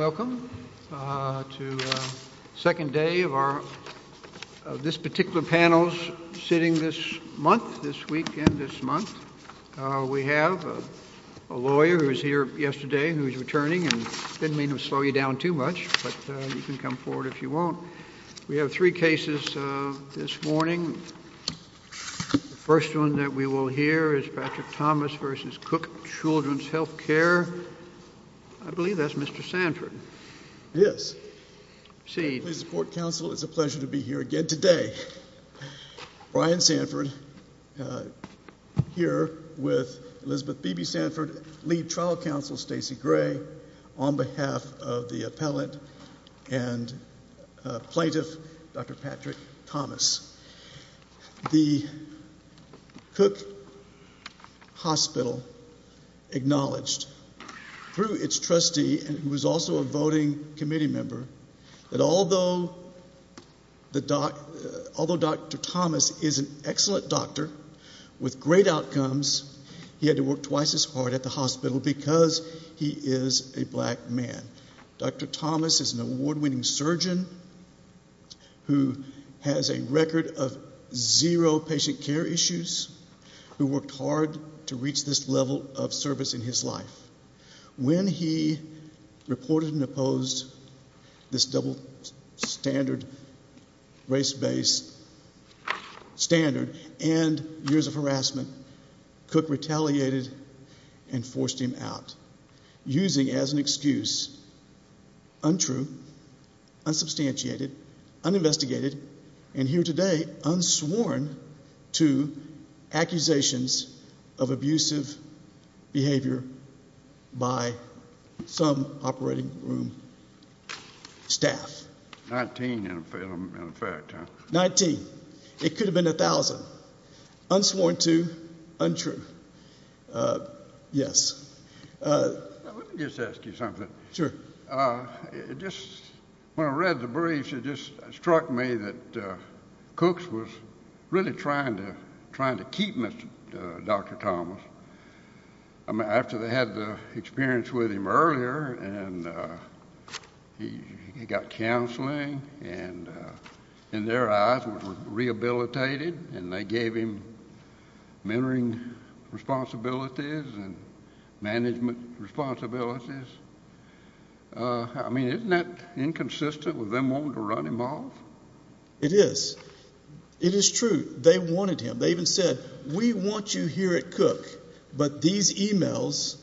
Welcome to the second day of this particular panel's sitting this month, this week and this month. We have a lawyer who was here yesterday who is returning and I didn't mean to slow you down too much, but you can come forward if you want. We have three cases this morning. First one that we will hear is Patrick Thomas v. Cook Children's Health Care, I believe that's Mr. Sanford. Yes. Please support counsel, it's a pleasure to be here again today. Brian Sanford here with Elizabeth Beebe Sanford, lead trial counsel Stacey Gray, on behalf of the appellant and plaintiff Dr. Patrick Thomas. The Cook Hospital acknowledged through its trustee who was also a voting committee member that although Dr. Thomas is an excellent doctor with great outcomes, he had to work twice as hard at the hospital because he is a black man. Dr. Thomas is an award winning surgeon who has a record of zero patient care issues, who worked hard to reach this level of service in his life. When he reported and opposed this double standard race-based standard and years of harassment, Cook retaliated and forced him out, using as an excuse untrue, unsubstantiated, uninvestigated, and here today unsworn to accusations of abusive behavior by some operating room staff. Nineteen in effect, huh? Nineteen. It could have been a thousand. Unsworn to, untrue. Yes. Let me just ask you something. Sure. Just when I read the briefs, it just struck me that Cook was really trying to keep Dr. Thomas. I mean, after they had the experience with him earlier and he got counseling and in their eyes were rehabilitated and they gave him mentoring responsibilities and management responsibilities. I mean, isn't that inconsistent with them wanting to run him off? It is. It is true. They wanted him. They even said, we want you here at Cook. But these emails,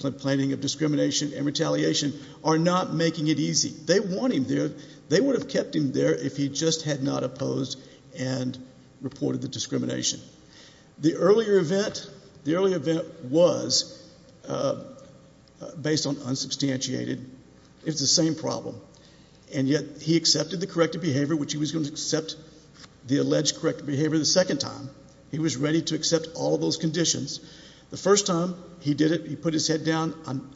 complaining of discrimination and retaliation, are not making it easy. They want him there. They would have kept him there if he just had not opposed and reported the discrimination. The earlier event, the earlier event was based on unsubstantiated. It's the same problem. And yet he accepted the corrective behavior, which he was going to accept the alleged corrective behavior the second time. He was ready to accept all of those conditions. The first time he did it, he put his head down,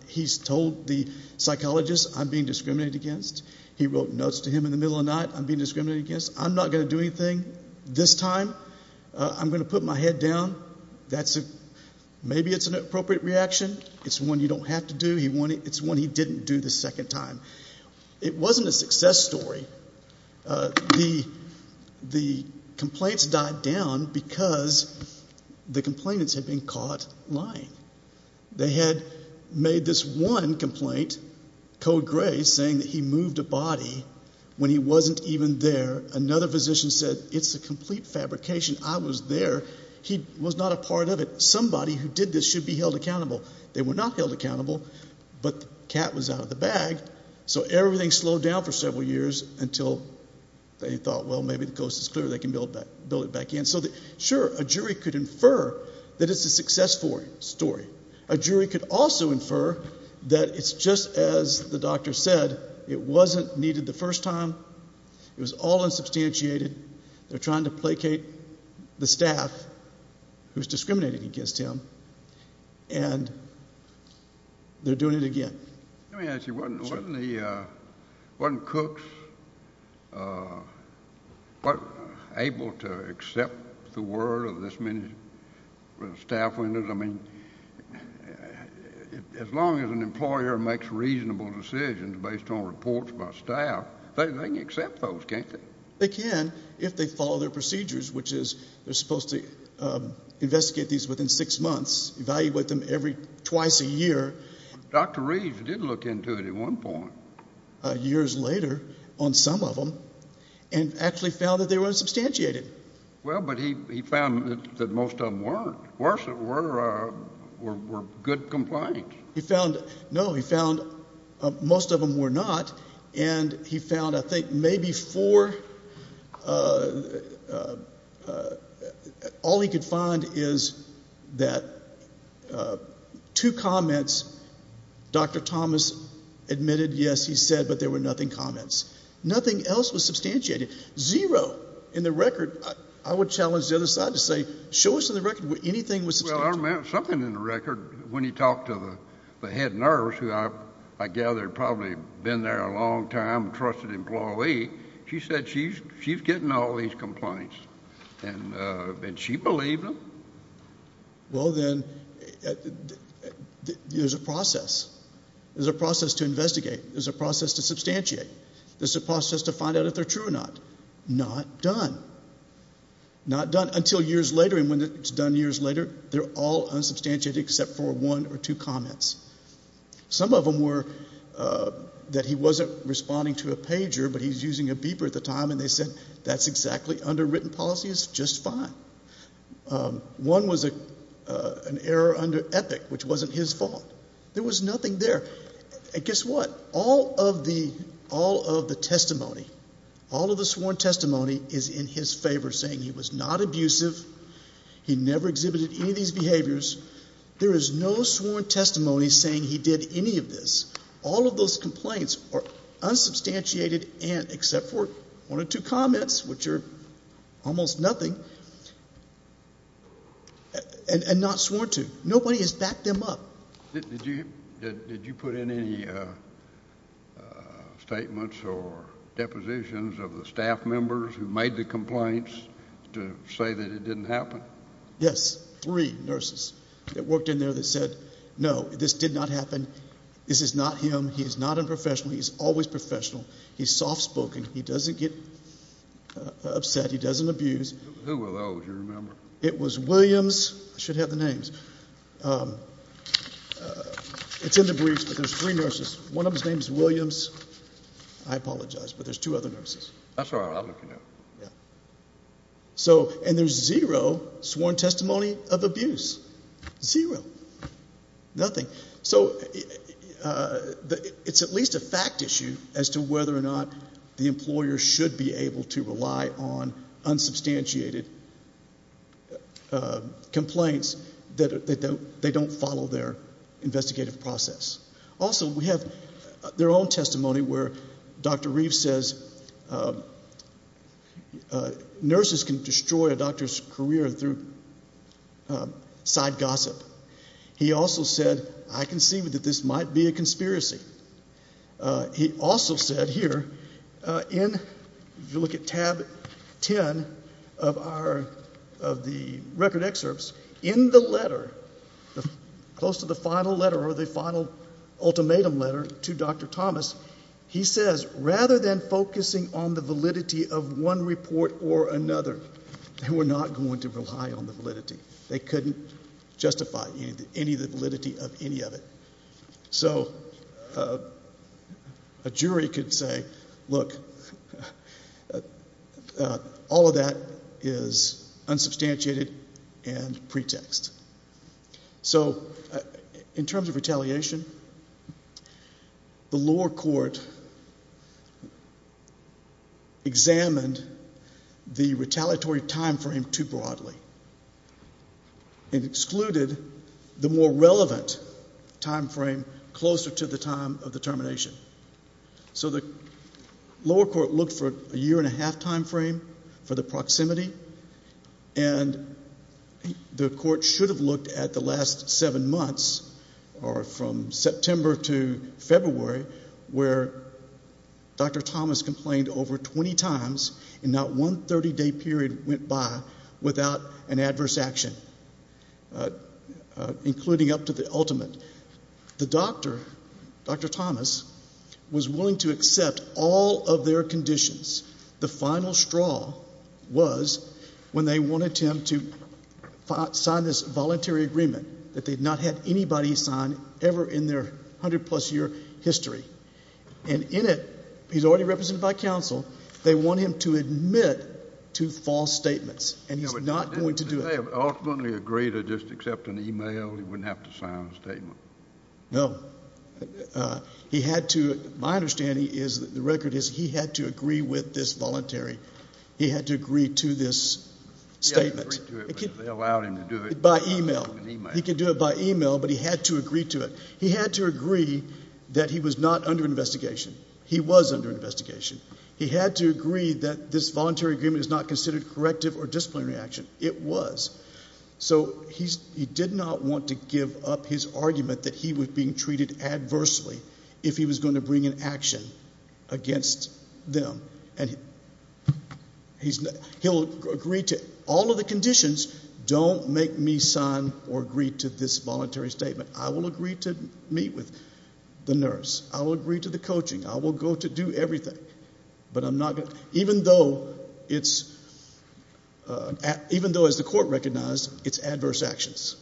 he told the psychologist, I'm being discriminated against. He wrote notes to him in the middle of the night, I'm being discriminated against. I'm not going to do anything this time. I'm going to put my head down. Maybe it's an appropriate reaction. It's one you don't have to do. It's one he didn't do the second time. It wasn't a success story. The complaints died down because the complainants had been caught lying. They had made this one complaint, Code Gray, saying that he moved a body when he wasn't even there. Another physician said, it's a complete fabrication. I was there. He was not a part of it. Somebody who did this should be held accountable. They were not held accountable, but the cat was out of the bag. So everything slowed down for several years until they thought, well, maybe the coast is clear. They can build it back in. Sure, a jury could infer that it's a successful story. A jury could also infer that it's just as the doctor said, it wasn't needed the first time. It was all unsubstantiated. They're trying to placate the staff who's discriminated against him, and they're doing it again. Let me ask you, wasn't Cooks able to accept the word of this many staff members? I mean, as long as an employer makes reasonable decisions based on reports by staff, they can accept those, can't they? They can if they follow their procedures, which is they're supposed to investigate these within six months, evaluate them every twice a year. Dr. Reeds did look into it at one point. Years later, on some of them, and actually found that they were unsubstantiated. Well, but he found that most of them weren't, were good complaints. He found, no, he found most of them were not, and he found, I think, maybe four, all he could find is that two comments, Dr. Thomas admitted, yes, he said, but there were nothing comments. Nothing else was substantiated, zero in the record. I would challenge the other side to say, show us in the record where anything was substantiated. Well, something in the record, when he talked to the head nurse, who I gather had probably been there a long time, a trusted employee, she said she's getting all these complaints, and she believed them. Well, then, there's a process, there's a process to investigate, there's a process to substantiate, there's a process to find out if they're true or not. Not done. Not done until years later, and when it's done years later, they're all unsubstantiated except for one or two comments. Some of them were that he wasn't responding to a pager, but he's using a beeper at the same time, and they said, that's exactly underwritten policy, it's just fine. One was an error under EPIC, which wasn't his fault. There was nothing there, and guess what, all of the testimony, all of the sworn testimony is in his favor, saying he was not abusive, he never exhibited any of these behaviors. There is no sworn testimony saying he did any of this. All of those complaints are unsubstantiated except for one or two comments, which are almost nothing, and not sworn to. Nobody has backed them up. Did you put in any statements or depositions of the staff members who made the complaints to say that it didn't happen? Yes. Three nurses that worked in there that said, no, this did not happen. This is not him. He is not unprofessional. He is always professional. He is soft-spoken. He doesn't get upset. He doesn't abuse. Who were those, do you remember? It was Williams. I should have the names. It's in the briefs, but there's three nurses. One of them's name is Williams. I apologize, but there's two other nurses. That's all right. I'll look it up. Yeah. And there's zero sworn testimony of abuse, zero, nothing. So it's at least a fact issue as to whether or not the employer should be able to rely on unsubstantiated complaints that they don't follow their investigative process. Also, we have their own testimony where Dr. Reeves says nurses can destroy a doctor's career through side gossip. He also said, I can see that this might be a conspiracy. He also said here, if you look at tab 10 of the record excerpts, in the letter, close to the final letter or the final ultimatum letter to Dr. Thomas, he says, rather than focusing on the validity of one report or another, they were not going to rely on the validity. They couldn't justify any of the validity of any of it. So a jury could say, look, all of that is unsubstantiated and pretext. So in terms of retaliation, the lower court examined the retaliatory timeframe too broadly. It excluded the more relevant timeframe closer to the time of the termination. So the lower court looked for a year and a half timeframe for the proximity and the court should have looked at the last seven months or from September to February where Dr. Thomas complained over 20 times and not one 30 day period went by without an adverse action, including up to the ultimate. The doctor, Dr. Thomas, was willing to accept all of their conditions. The final straw was when they wanted him to sign this voluntary agreement that they'd not had anybody sign ever in their hundred plus year history. And in it, he's already represented by counsel. They want him to admit to false statements and he's not going to do it. Did they ultimately agree to just accept an email? He wouldn't have to sign a statement? No. He had to. My understanding is that the record is he had to agree with this voluntary. He had to agree to this statement by email. He could do it by email, but he had to agree to it. He had to agree that he was not under investigation. He was under investigation. He had to agree that this voluntary agreement is not considered corrective or disciplinary action. It was. So he did not want to give up his argument that he was being treated adversely if he was going to bring an action against them. And he'll agree to all of the conditions, don't make me sign or agree to this voluntary statement. I will agree to meet with the nurse. I will agree to the coaching. I will go to do everything. But I'm not going to, even though it's, even though as the court recognized, it's adverse actions.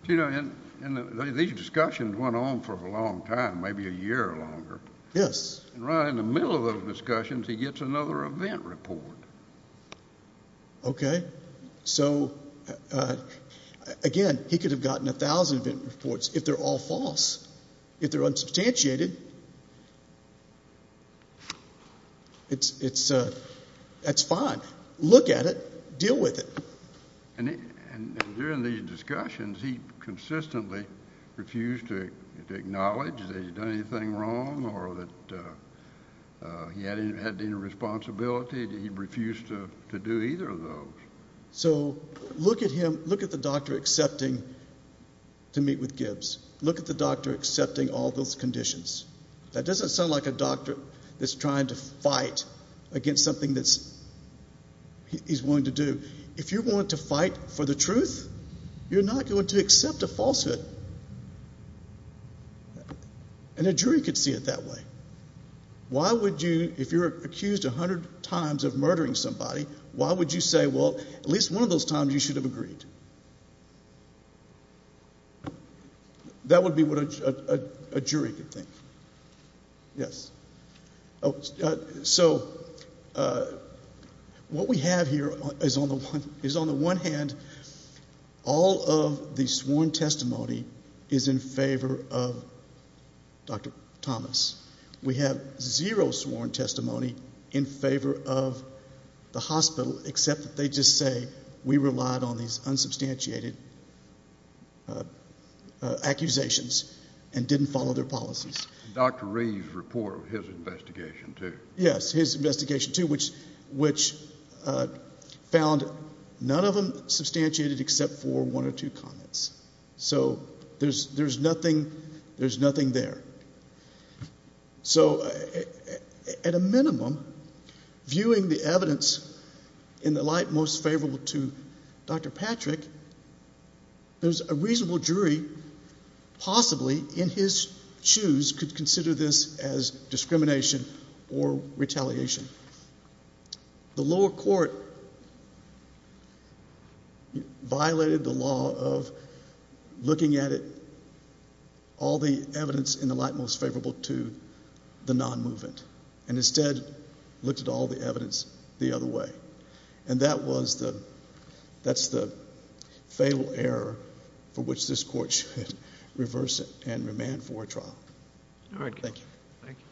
But you know, and these discussions went on for a long time, maybe a year or longer. Yes. And right in the middle of those discussions, he gets another event report. Okay. So again, he could have gotten a thousand reports if they're all false, if they're unsubstantiated. It's it's a, that's fine. Look at it, deal with it. And during these discussions, he consistently refused to acknowledge that he'd done anything wrong or that he had any responsibility that he refused to do either of those. So look at him, look at the doctor accepting to meet with Gibbs. Look at the doctor accepting all those conditions. That doesn't sound like a doctor that's trying to fight against something that's he's willing to do. If you want to fight for the truth, you're not going to accept a falsehood. And a jury could see it that way. Why would you, if you're accused a hundred times of murdering somebody, why would you say, well, at least one of those times you should have agreed? That would be what a jury could think. Yes. Oh, so, uh, what we have here is on the one is on the one hand, all of the sworn testimony is in favor of Dr. Thomas. We have zero sworn testimony in favor of the hospital, except that they just say we relied on these unsubstantiated, uh, uh, accusations and didn't follow their policies. Dr. Reeves report of his investigation too. Yes. His investigation too, which, which, uh, found none of them substantiated except for one or two comments. So there's, there's nothing, there's nothing there. So at a minimum viewing the evidence in the light, most favorable to Dr. Patrick, there's a reasonable jury possibly in his shoes could consider this as discrimination or retaliation. The lower court violated the law of looking at it, all the evidence in the light most favorable to the non-movement and instead looked at all the evidence the other way. And that was the, that's the fatal error for which this court should reverse it and remand for a trial. All right. Thank you. Thank you.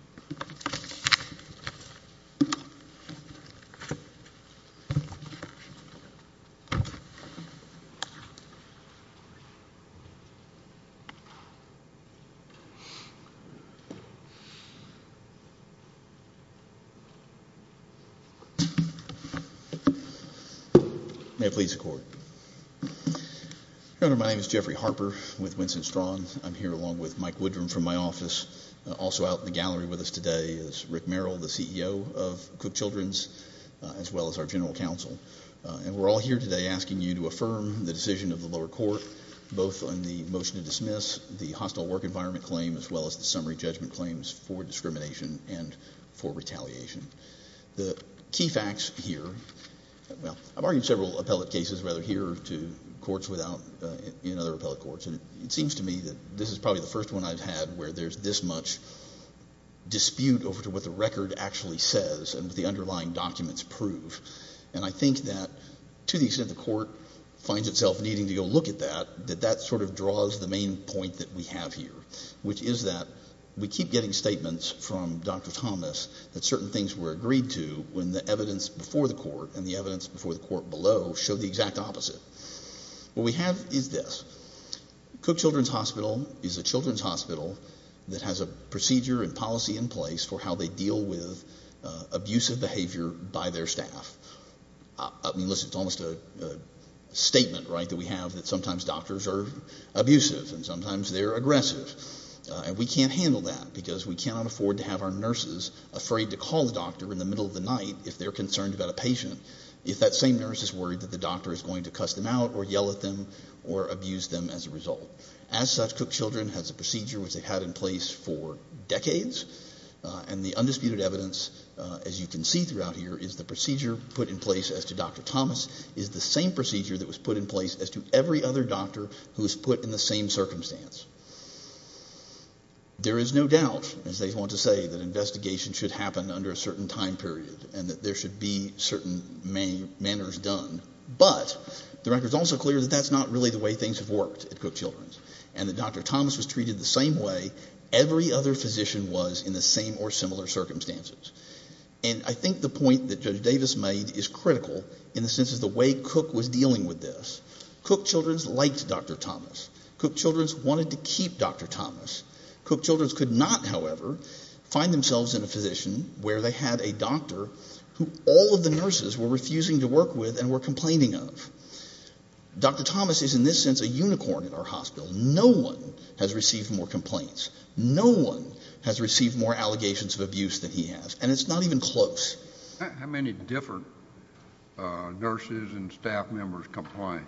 May it please the court. My name is Jeffrey Harper with Winston Strawn. I'm here along with Mike Woodrum from my office. Also out in the gallery with us today is Rick Merrill, the CEO of Cook Children's, as well as our general counsel. And we're all here today asking you to affirm the decision of the lower court, both on the motion to dismiss the hostile work environment claim, as well as the summary judgment claims for discrimination and for retaliation. The key facts here, well, I've argued several appellate cases rather here to courts without in other appellate courts. And it seems to me that this is probably the first one I've had where there's this much dispute over to what the record actually says and what the underlying documents prove. And I think that to the extent the court finds itself needing to go look at that, that that sort of draws the main point that we have here, which is that we keep getting statements from Dr. Thomas that certain things were agreed to when the evidence before the court and the evidence before the court below show the exact opposite. What we have is this. Cook Children's Hospital is a children's hospital that has a procedure and policy in place for how they deal with abusive behavior by their staff. I mean, listen, it's almost a statement, right, that we have that sometimes doctors are abusive and sometimes they're aggressive. And we can't handle that because we cannot afford to have our nurses afraid to call the doctor in the middle of the night if they're concerned about a patient if that same nurse is worried that the doctor is going to cuss them out or yell at them or abuse them as a result. As such, Cook Children has a procedure which they've had in place for decades. And the undisputed evidence, as you can see throughout here, is the procedure put in place as to Dr. Thomas is the same procedure that was put in place as to every other doctor who was put in the same circumstance. There is no doubt, as they want to say, that investigation should happen under a certain time period and that there should be certain manners done. But the record is also clear that that's not really the way things have worked at Cook Children's and that Dr. Thomas was treated the same way every other physician was in the same or similar circumstances. And I think the point that Judge Davis made is critical in the sense of the way Cook was dealing with this. Cook Children's liked Dr. Thomas. Cook Children's wanted to keep Dr. Thomas. Cook Children's could not, however, find themselves in a physician where they had a doctor who all of the nurses were refusing to work with and were complaining of. Dr. Thomas is, in this sense, a unicorn in our hospital. No one has received more complaints. No one has received more allegations of abuse than he has. And it's not even close. How many different nurses and staff members complained?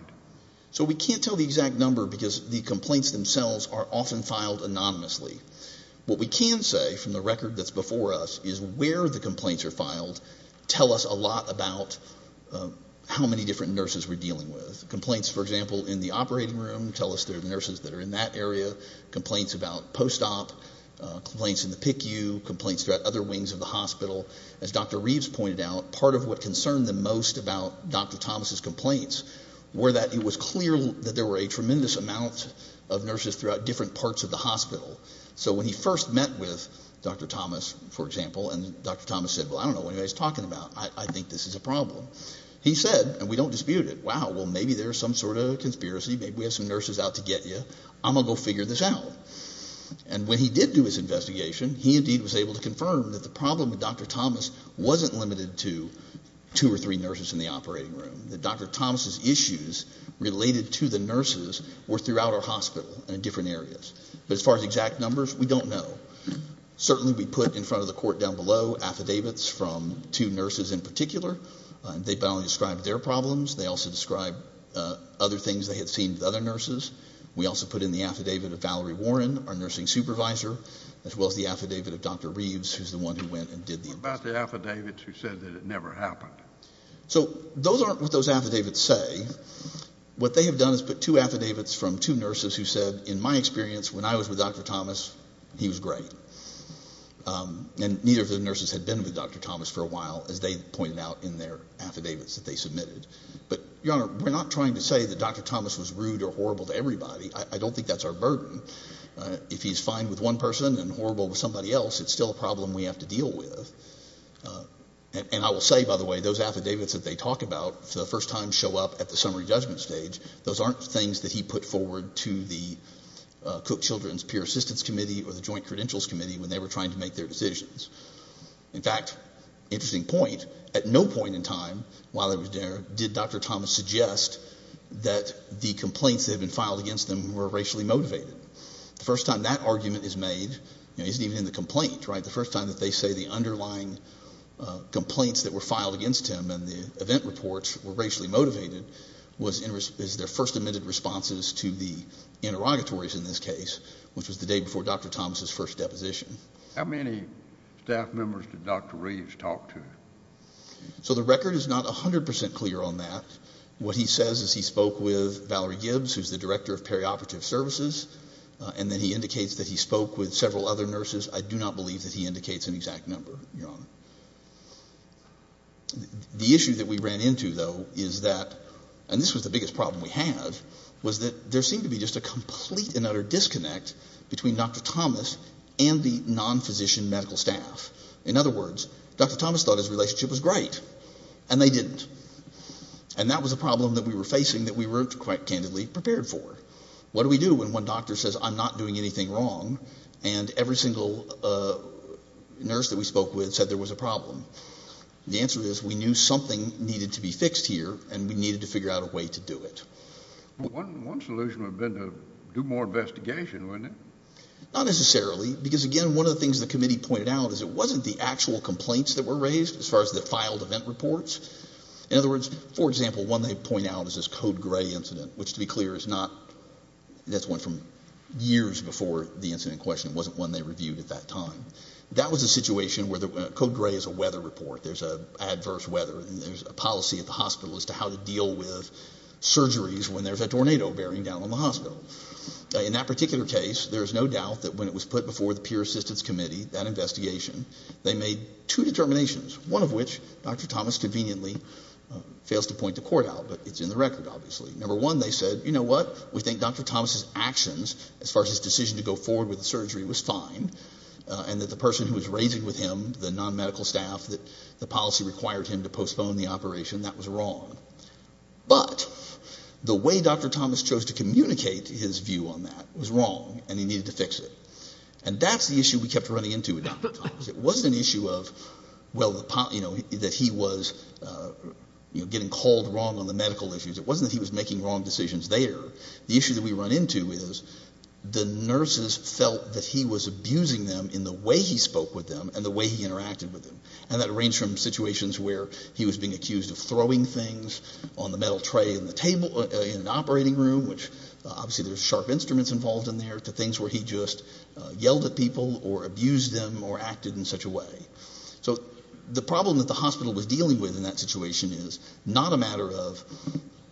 So we can't tell the exact number because the complaints themselves are often filed anonymously. What we can say from the record that's before us is where the complaints are filed tell us a lot about how many different nurses we're dealing with. Complaints, for example, in the operating room tell us there are nurses that are in that area. Complaints about post-op, complaints in the PICU, complaints throughout other wings of the hospital. As Dr. Reeves pointed out, part of what concerned them most about Dr. Thomas's complaints were that it was clear that there were a tremendous amount of nurses throughout different parts of the hospital. So when he first met with Dr. Thomas, for example, and Dr. Thomas said, well, I don't know what he's talking about. I think this is a problem. He said, and we don't dispute it, wow, well, maybe there's some sort of conspiracy. Maybe we have some nurses out to get you. I'm going to go figure this out. And when he did do his investigation, he indeed was able to confirm that the problem with Dr. Thomas wasn't limited to two or three nurses in the operating room, that Dr. Thomas's complaints related to the nurses were throughout our hospital and in different areas. But as far as exact numbers, we don't know. Certainly we put in front of the court down below affidavits from two nurses in particular. They not only described their problems, they also described other things they had seen with other nurses. We also put in the affidavit of Valerie Warren, our nursing supervisor, as well as the affidavit of Dr. Reeves, who's the one who went and did the investigation. What about the affidavits who said that it never happened? So those aren't what those affidavits say. What they have done is put two affidavits from two nurses who said, in my experience, when I was with Dr. Thomas, he was great. And neither of the nurses had been with Dr. Thomas for a while, as they pointed out in their affidavits that they submitted. But Your Honor, we're not trying to say that Dr. Thomas was rude or horrible to everybody. I don't think that's our burden. If he's fine with one person and horrible with somebody else, it's still a problem we have to deal with. And I will say, by the way, those affidavits that they talk about, for the first time show up at the summary judgment stage, those aren't things that he put forward to the Cook Children's Peer Assistance Committee or the Joint Credentials Committee when they were trying to make their decisions. In fact, interesting point, at no point in time while I was there did Dr. Thomas suggest that the complaints that had been filed against them were racially motivated. The first time that argument is made, you know, isn't even in the complaint, right? The first time that they say the underlying complaints that were filed against him and the event reports were racially motivated is their first admitted responses to the interrogatories in this case, which was the day before Dr. Thomas' first deposition. How many staff members did Dr. Reeves talk to? So the record is not 100% clear on that. What he says is he spoke with Valerie Gibbs, who's the director of perioperative services, and then he indicates that he spoke with several other nurses. I do not believe that he indicates an exact number, Your Honor. The issue that we ran into, though, is that, and this was the biggest problem we had, was that there seemed to be just a complete and utter disconnect between Dr. Thomas and the non-physician medical staff. In other words, Dr. Thomas thought his relationship was great, and they didn't. And that was a problem that we were facing that we weren't quite candidly prepared for. What do we do when one doctor says, I'm not doing anything wrong, and every single nurse that we spoke with said there was a problem? The answer is we knew something needed to be fixed here, and we needed to figure out a way to do it. One solution would have been to do more investigation, wouldn't it? Not necessarily, because again, one of the things the committee pointed out is it wasn't the actual complaints that were raised as far as the filed event reports. In other words, for example, one they point out is this Code Grey incident, which to be clear, is not, that's one from years before the incident in question, it wasn't one they reviewed at that time. That was a situation where, Code Grey is a weather report, there's adverse weather, there's a policy at the hospital as to how to deal with surgeries when there's a tornado bearing down on the hospital. In that particular case, there is no doubt that when it was put before the Peer Assistance Committee, that investigation, they made two determinations, one of which Dr. Thomas conveniently fails to point to court out, but it's in the record, obviously. Number one, they said, you know what, we think Dr. Thomas's actions as far as his decision to go forward with the surgery was fine, and that the person who was raising with him, the non-medical staff, that the policy required him to postpone the operation, that was wrong. But the way Dr. Thomas chose to communicate his view on that was wrong, and he needed to fix it. And that's the issue we kept running into with Dr. Thomas. It wasn't an issue of, well, you know, that he was, you know, getting called wrong on the medical issues. It wasn't that he was making wrong decisions there. The issue that we run into is the nurses felt that he was abusing them in the way he spoke with them and the way he interacted with them. And that ranged from situations where he was being accused of throwing things on the metal tray in the table in an operating room, which obviously there's sharp instruments involved in there, to things where he just yelled at people or abused them or acted in such a way. So the problem that the hospital was dealing with in that situation is not a matter of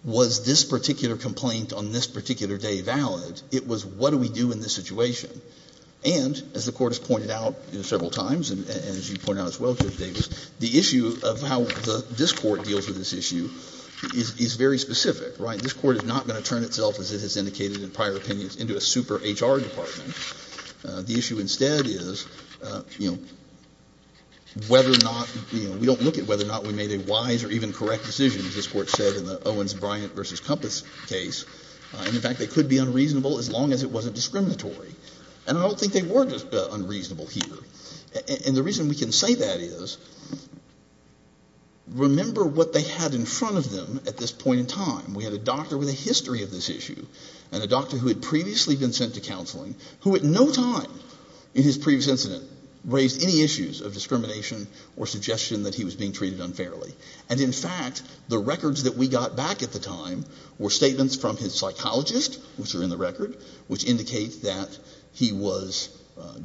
was this particular complaint on this particular day valid. It was what do we do in this situation. And as the Court has pointed out several times, and as you point out as well, Judge Davis, the issue of how this Court deals with this issue is very specific, right? This Court is not going to turn itself, as it has indicated in prior opinions, into a super HR department. The issue instead is whether or not, we don't look at whether or not we made a wise or even correct decision, as this Court said in the Owens-Bryant v. Kompas case, and in fact, they could be unreasonable as long as it wasn't discriminatory. And I don't think they were unreasonable here. And the reason we can say that is, remember what they had in front of them at this point in time. We had a doctor with a history of this issue and a doctor who had previously been sent to counseling, who at no time in his previous incident raised any issues of discrimination or suggestion that he was being treated unfairly. And in fact, the records that we got back at the time were statements from his psychologist, which are in the record, which indicate that he was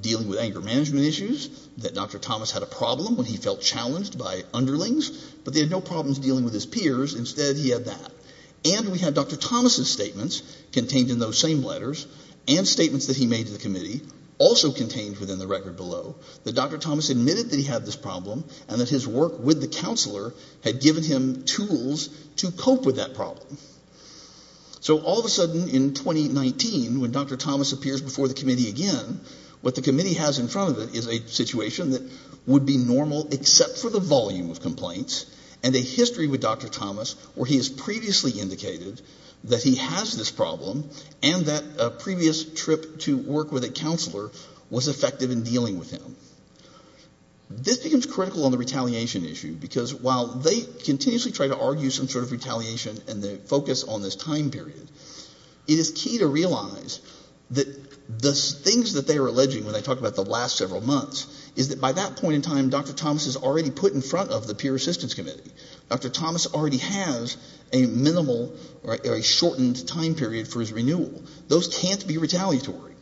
dealing with anger management issues, that Dr. Thomas had a problem when he felt challenged by underlings, but they had no problems dealing with his peers. Instead, he had that. And we had Dr. Thomas' statements contained in those same letters and statements that he made to the committee, also contained within the record below, that Dr. Thomas admitted that he had this problem and that his work with the counselor had given him tools to cope with that problem. So all of a sudden, in 2019, when Dr. Thomas appears before the committee again, what the committee has in front of it is a situation that would be normal except for the volume of complaints and a history with Dr. Thomas where he has previously indicated that he has this problem and that a previous trip to work with a counselor was effective in dealing with him. This becomes critical on the retaliation issue because while they continuously try to argue some sort of retaliation and they focus on this time period, it is key to realize that the things that they are alleging when they talk about the last several months is that by that point in time, Dr. Thomas is already put in front of the peer assistance committee. Dr. Thomas already has a minimal or a shortened time period for his renewal. Those can't be retaliatory.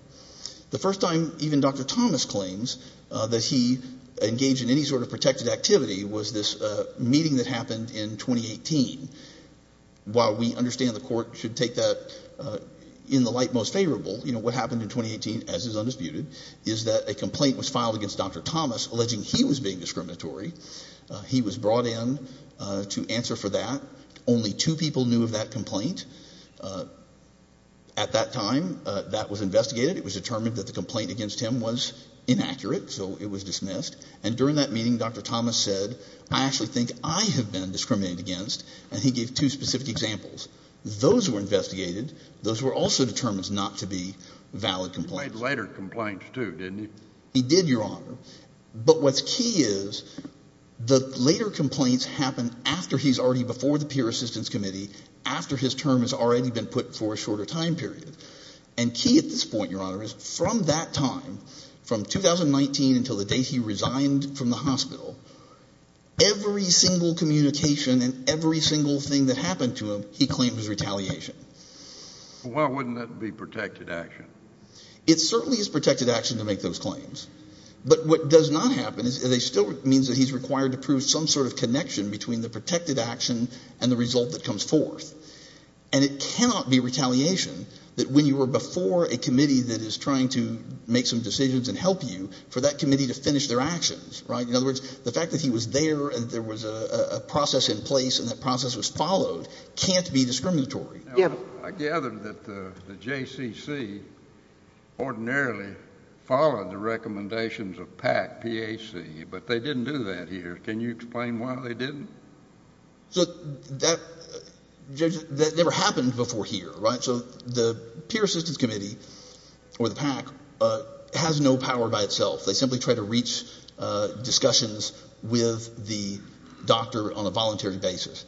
The first time even Dr. Thomas claims that he engaged in any sort of protected activity was this meeting that happened in 2018. While we understand the court should take that in the light most favorable, you know, what happened in 2018 as is undisputed is that a complaint was filed against Dr. Thomas alleging he was being discriminatory. He was brought in to answer for that. Only two people knew of that complaint. At that time, that was investigated. It was determined that the complaint against him was inaccurate, so it was dismissed. And during that meeting, Dr. Thomas said, I actually think I have been discriminated against and he gave two specific examples. Those were investigated. Those were also determined not to be valid complaints. He made later complaints too, didn't he? He did, Your Honor. But what's key is the later complaints happen after he's already before the peer assistance committee, after his term has already been put for a shorter time period. And key at this point, Your Honor, is from that time, from 2019 until the day he resigned from the hospital, every single communication and every single thing that happened to him, he claimed was retaliation. Why wouldn't that be protected action? It certainly is protected action to make those claims. But what does not happen is it still means that he's required to prove some sort of connection between the protected action and the result that comes forth. And it cannot be retaliation that when you were before a committee that is trying to make some decisions and help you, for that committee to finish their actions, right? In other words, the fact that he was there and there was a process in place and that to be discriminatory. I gather that the JCC ordinarily followed the recommendations of PAC, P-A-C, but they didn't do that here. Can you explain why they didn't? So that never happened before here, right? So the peer assistance committee or the PAC has no power by itself. They simply try to reach discussions with the doctor on a voluntary basis.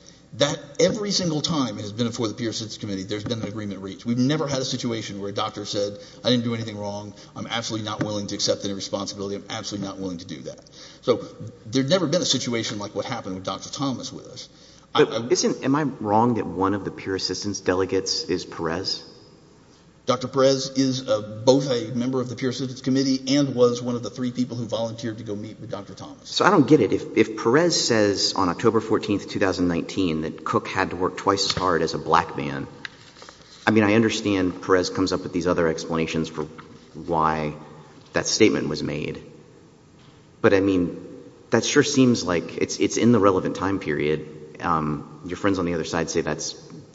Every single time it has been before the peer assistance committee, there's been an agreement reached. We've never had a situation where a doctor said, I didn't do anything wrong, I'm absolutely not willing to accept any responsibility, I'm absolutely not willing to do that. So there's never been a situation like what happened with Dr. Thomas with us. Am I wrong that one of the peer assistance delegates is Perez? Dr. Perez is both a member of the peer assistance committee and was one of the three people who volunteered to go meet with Dr. Thomas. So I don't get it. If Perez says on October 14th, 2019, that Cook had to work twice as hard as a black man, I mean, I understand Perez comes up with these other explanations for why that statement was made. But, I mean, that sure seems like it's in the relevant time period. Your friends on the other side say that's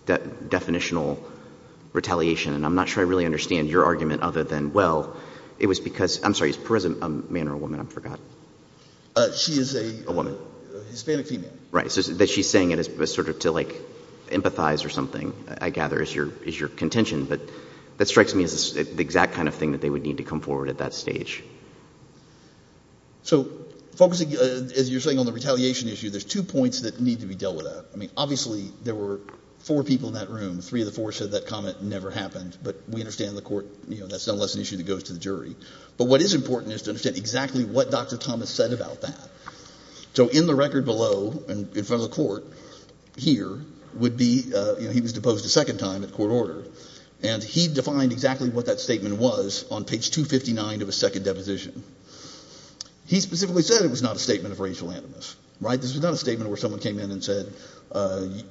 definitional retaliation, and I'm not sure I really understand your argument other than, well, it was because — I'm sorry, is Perez a man or a woman? I forgot. She is a woman. A Hispanic female. Right. So that she's saying it as sort of to, like, empathize or something, I gather, is your contention. But that strikes me as the exact kind of thing that they would need to come forward at that stage. So focusing, as you're saying, on the retaliation issue, there's two points that need to be dealt with. I mean, obviously, there were four people in that room, three of the four said that comment never happened. But we understand in the court, you know, that's no less an issue that goes to the jury. But what is important is to understand exactly what Dr. Thomas said about that. So in the record below, in front of the court here, would be, you know, he was deposed a second time at court order. And he defined exactly what that statement was on page 259 of a second deposition. He specifically said it was not a statement of racial animus. Right? This was not a statement where someone came in and said,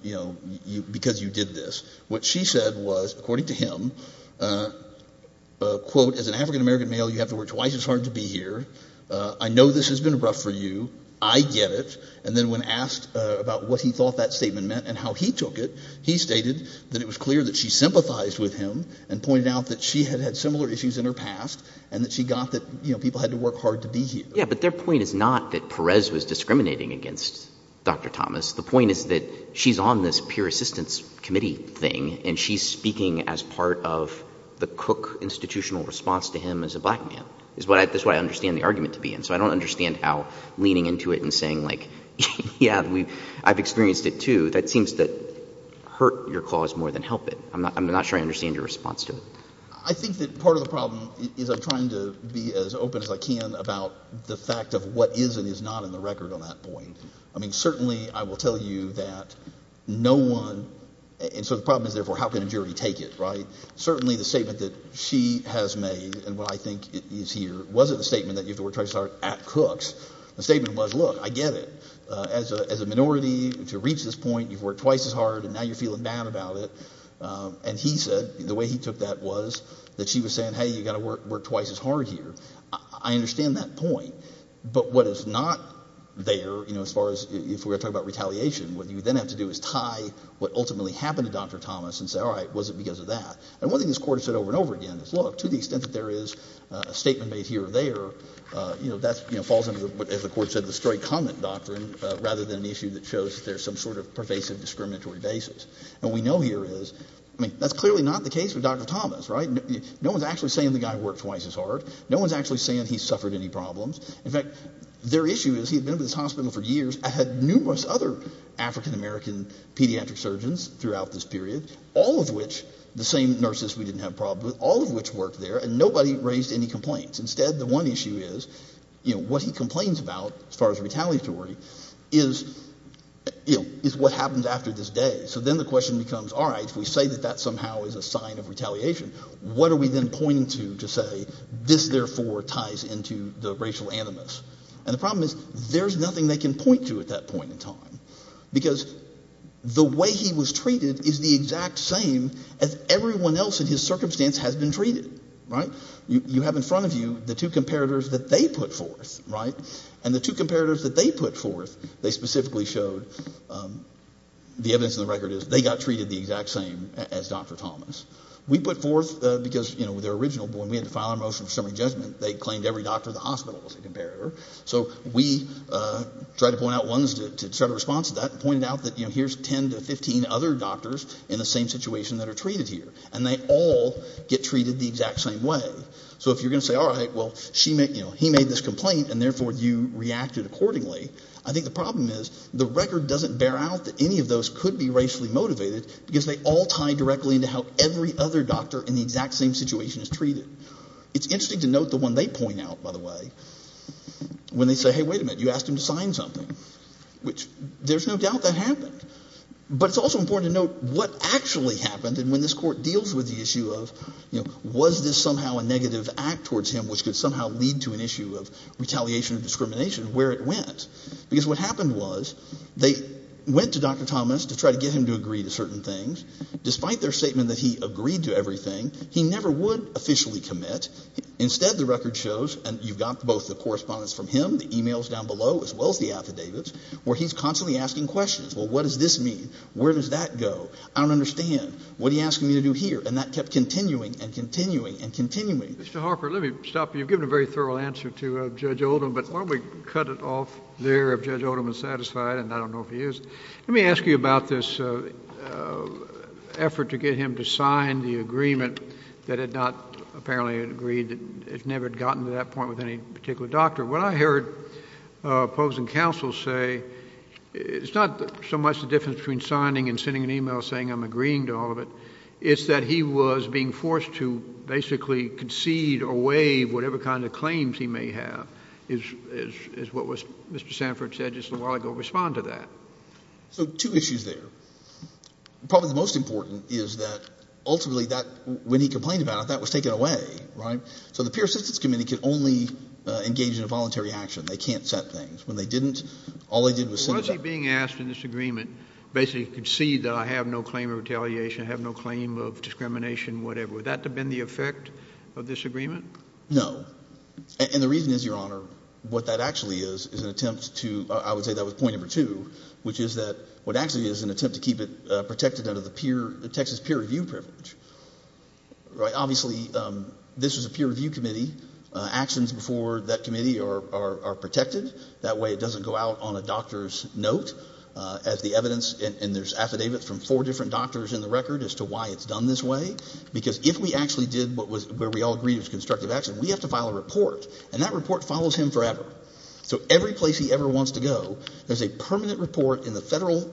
you know, because you did this. What she said was, according to him, quote, as an African-American male, you have to work twice as hard to be here. I know this has been rough for you. I get it. And then when asked about what he thought that statement meant and how he took it, he stated that it was clear that she sympathized with him and pointed out that she had had similar issues in her past and that she got that, you know, people had to work hard to be here. Yeah. But their point is not that Perez was discriminating against Dr. Thomas. The point is that she's on this peer assistance committee thing and she's speaking as part of the Cook Institutional response to him as a black man is what I, that's what I understand the argument to be in. So I don't understand how leaning into it and saying like, yeah, we, I've experienced it too. That seems to hurt your clause more than help it. I'm not, I'm not sure I understand your response to it. I think that part of the problem is I'm trying to be as open as I can about the fact of what is and is not in the record on that point. I mean, certainly I will tell you that no one, and so the problem is therefore how can a jury take it, right? Certainly the statement that she has made and what I think is here wasn't a statement that you have to work twice as hard at Cook's. The statement was, look, I get it. As a, as a minority to reach this point, you've worked twice as hard and now you're feeling bad about it. And he said the way he took that was that she was saying, hey, you got to work, work twice as hard here. I understand that point. But what is not there, you know, as far as if we're talking about retaliation, what you then have to do is tie what ultimately happened to Dr. Thomas and say, all right, was it because of that? And one thing this Court has said over and over again is, look, to the extent that there is a statement made here or there, you know, that's, you know, falls under the, as the Court said, the straight comment doctrine rather than an issue that shows that there's some sort of pervasive discriminatory basis. And we know here is, I mean, that's clearly not the case with Dr. Thomas, right? No one's actually saying the guy worked twice as hard. No one's actually saying he suffered any problems. In fact, their issue is he had been in this hospital for years, had numerous other African-American pediatric surgeons throughout this period, all of which, the same nurses we didn't have problems with, all of which worked there and nobody raised any complaints. Instead, the one issue is, you know, what he complains about as far as retaliatory is, you know, is what happens after this day. So then the question becomes, all right, if we say that that somehow is a sign of retaliation, what are we then pointing to to say this, therefore, ties into the racial animus? And the problem is there's nothing they can point to at that point in time because the way he was treated is the exact same as everyone else in his circumstance has been treated, right? You have in front of you the two comparators that they put forth, right? And the two comparators that they put forth, they specifically showed, the evidence in the record is they got treated the exact same as Dr. Thomas. We put forth, because, you know, they're original, but when we had to file our motion for summary judgment, they claimed every doctor in the hospital was a comparator. So we tried to point out ones to try to respond to that and pointed out that, you know, here's 10 to 15 other doctors in the same situation that are treated here. And they all get treated the exact same way. So if you're going to say, all right, well, she made, you know, he made this complaint and therefore you reacted accordingly. I think the problem is the record doesn't bear out that any of those could be racially motivated because they all tie directly into how every other doctor in the exact same situation is treated. It's interesting to note the one they point out, by the way, when they say, hey, wait a minute, you asked him to sign something, which there's no doubt that happened. But it's also important to note what actually happened and when this court deals with the issue of, you know, was this somehow a negative act towards him, which could somehow lead to an issue of retaliation or discrimination, where it went, because what happened was they went to Dr. Thomas to try to get him to agree to certain things. Despite their statement that he agreed to everything, he never would officially commit. Instead, the record shows, and you've got both the correspondence from him, the emails down below, as well as the affidavits, where he's constantly asking questions, well, what does this mean? Where does that go? I don't understand. What are you asking me to do here? And that kept continuing and continuing and continuing. Mr. Harper, let me stop you. You've given a very thorough answer to Judge Oldham, but why don't we cut it off there if Judge Oldham is satisfied, and I don't know if he is. Let me ask you about this effort to get him to sign the agreement that had not apparently agreed, that it never had gotten to that point with any particular doctor. What I heard opposing counsel say, it's not so much the difference between signing and sending an email saying I'm agreeing to all of it. It's that he was being forced to basically concede or waive whatever kind of claims he had. And I heard Judge Edges a while ago respond to that. So two issues there. Probably the most important is that ultimately that, when he complained about it, that was taken away. Right? So the Peer Assistance Committee could only engage in a voluntary action. They can't set things. When they didn't, all they did was send an email. Was he being asked in this agreement, basically concede that I have no claim of retaliation, have no claim of discrimination, whatever, would that have been the effect of this agreement? No. And the reason is, Your Honor, what that actually is, is an attempt to, I would say that was point number two, which is that, what actually is an attempt to keep it protected under the peer, the Texas Peer Review Privilege. Right? Obviously, this is a Peer Review Committee. Actions before that committee are protected. That way it doesn't go out on a doctor's note as the evidence, and there's affidavits from four different doctors in the record as to why it's done this way. Because if we actually did what we all agreed was constructive action, we have to file a report, and that report follows him forever. So every place he ever wants to go, there's a permanent report in the federal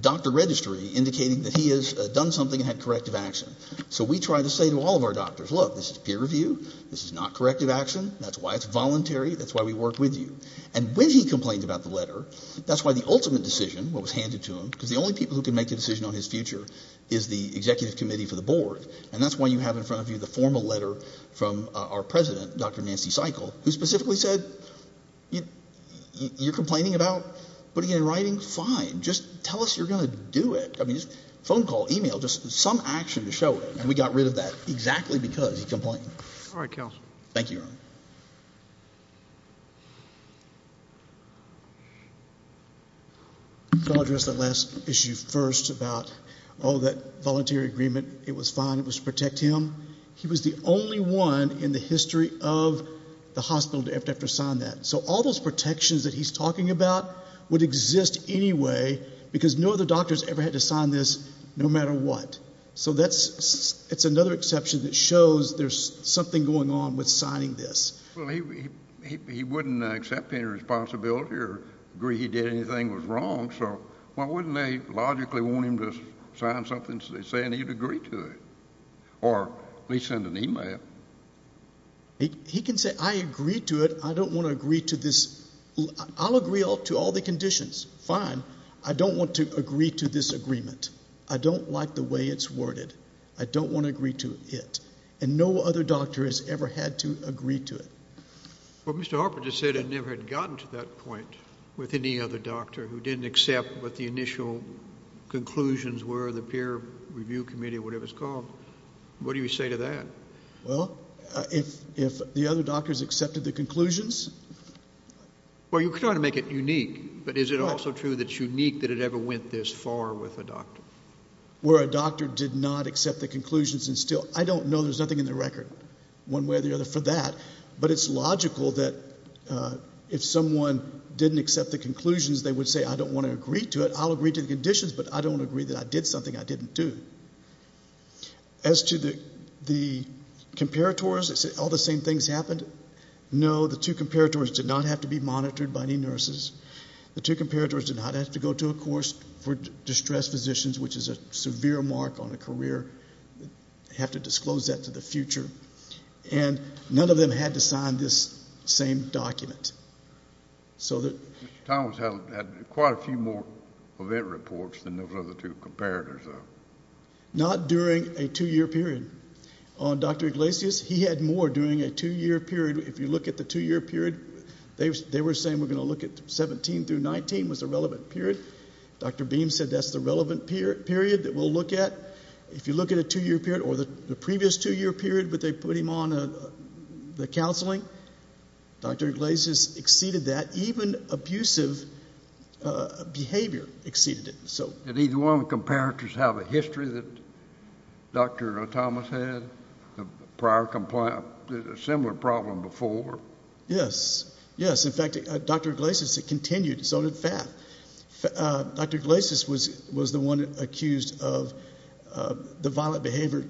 doctor registry indicating that he has done something and had corrective action. So we try to say to all of our doctors, look, this is peer review, this is not corrective action, that's why it's voluntary, that's why we work with you. And when he complained about the letter, that's why the ultimate decision, what was handed to him, because the only people who can make a decision on his future is the Executive Committee for the Board. And that's why you have in front of you the formal letter from our President, Dr. Nancy Seichel, who specifically said, you're complaining about putting it in writing? Fine. Just tell us you're going to do it. I mean, phone call, e-mail, just some action to show it. And we got rid of that exactly because he complained. Thank you, Your Honor. Can I address that last issue first about, oh, that voluntary agreement, it was fine, it was to protect him? He was the only one in the history of the hospital to ever have to sign that. So all those protections that he's talking about would exist anyway because no other doctors ever had to sign this, no matter what. So that's, it's another exception that shows there's something going on with signing this. Well, he wouldn't accept any responsibility or agree he did anything was wrong, so why wouldn't they logically want him to sign something saying he'd agree to it? Or at least send an e-mail. He can say, I agree to it, I don't want to agree to this, I'll agree to all the conditions. Fine. I don't want to agree to this agreement. I don't like the way it's worded. I don't want to agree to it. And no other doctor has ever had to agree to it. Well, Mr. Harper just said he never had gotten to that point with any other doctor who didn't accept what the initial conclusions were of the peer review committee, whatever it's called. What do you say to that? Well, if the other doctors accepted the conclusions? Well, you're trying to make it unique, but is it also true that it's unique that it ever went this far with a doctor? Where a doctor did not accept the conclusions and still, I don't know, there's nothing in the record one way or the other for that, but it's logical that if someone didn't accept the conclusions, they would say, I don't want to agree to it, I'll agree to the conditions, but I don't agree that I did something I didn't do. As to the comparators, all the same things happened? No, the two comparators did not have to be monitored by any nurses. The two comparators did not have to go to a course for distressed physicians, which is a severe mark on a career, have to disclose that to the future. And none of them had to sign this same document. So that... Mr. Thomas had quite a few more event reports than those other two comparators, though. Not during a two-year period. On Dr. Iglesias, he had more during a two-year period. If you look at the two-year period, they were saying we're going to look at 17 through 19 was the relevant period. Dr. Beam said that's the relevant period that we'll look at. If you look at a two-year period, or the previous two-year period, but they put him on the counseling, Dr. Iglesias exceeded that. Even abusive behavior exceeded it. So... Did either one of the comparators have a history that Dr. Thomas had of prior compliance? Or did they have a similar problem before? Yes. Yes. In fact, Dr. Iglesias, it continued, so did Faf. Dr. Iglesias was the one accused of the violent behavior,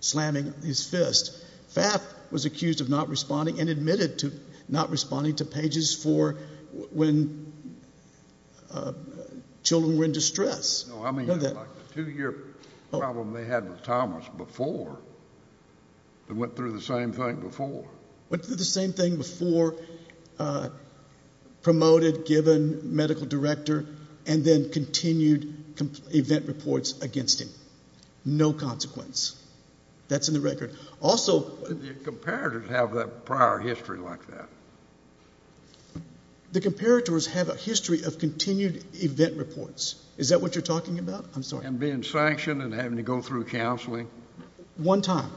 slamming his fist. Faf was accused of not responding and admitted to not responding to pages for when children were in distress. No, I mean like the two-year problem they had with Thomas before that went through the same thing before. Went through the same thing before, promoted, given medical director, and then continued event reports against him. No consequence. That's in the record. Also... Did the comparators have that prior history like that? The comparators have a history of continued event reports. Is that what you're talking about? I'm sorry. And being sanctioned and having to go through counseling? One time.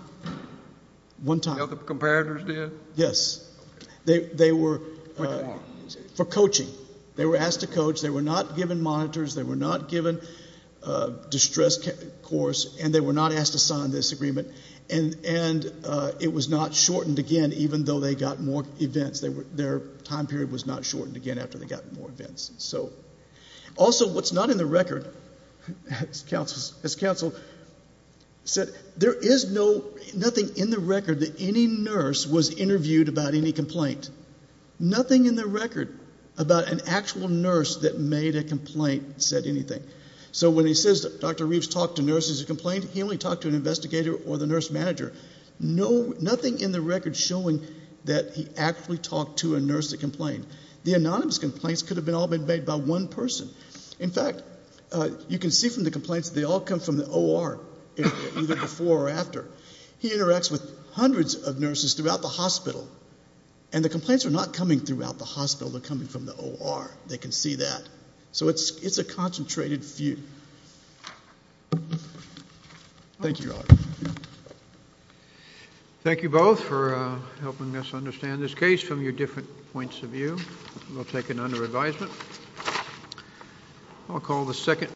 One time. The comparators did? Yes. Okay. They were... For how long? For coaching. They were asked to coach. They were not given monitors. They were not given a distress course. And they were not asked to sign this agreement. And it was not shortened again, even though they got more events. Their time period was not shortened again after they got more events. So... So it's not in the record, as counsel said. There is no... Nothing in the record that any nurse was interviewed about any complaint. Nothing in the record about an actual nurse that made a complaint said anything. So when he says that Dr. Reeves talked to nurses who complained, he only talked to an investigator or the nurse manager. Nothing in the record showing that he actually talked to a nurse that complained. The anonymous complaints could have all been made by one person. In fact, you can see from the complaints they all come from the OR, either before or after. He interacts with hundreds of nurses throughout the hospital, and the complaints are not coming throughout the hospital. They're coming from the OR. They can see that. So it's a concentrated feud. Thank you, Your Honor. Thank you both for helping us understand this case from your different points of view. We'll take it under advisement. I'll call the second...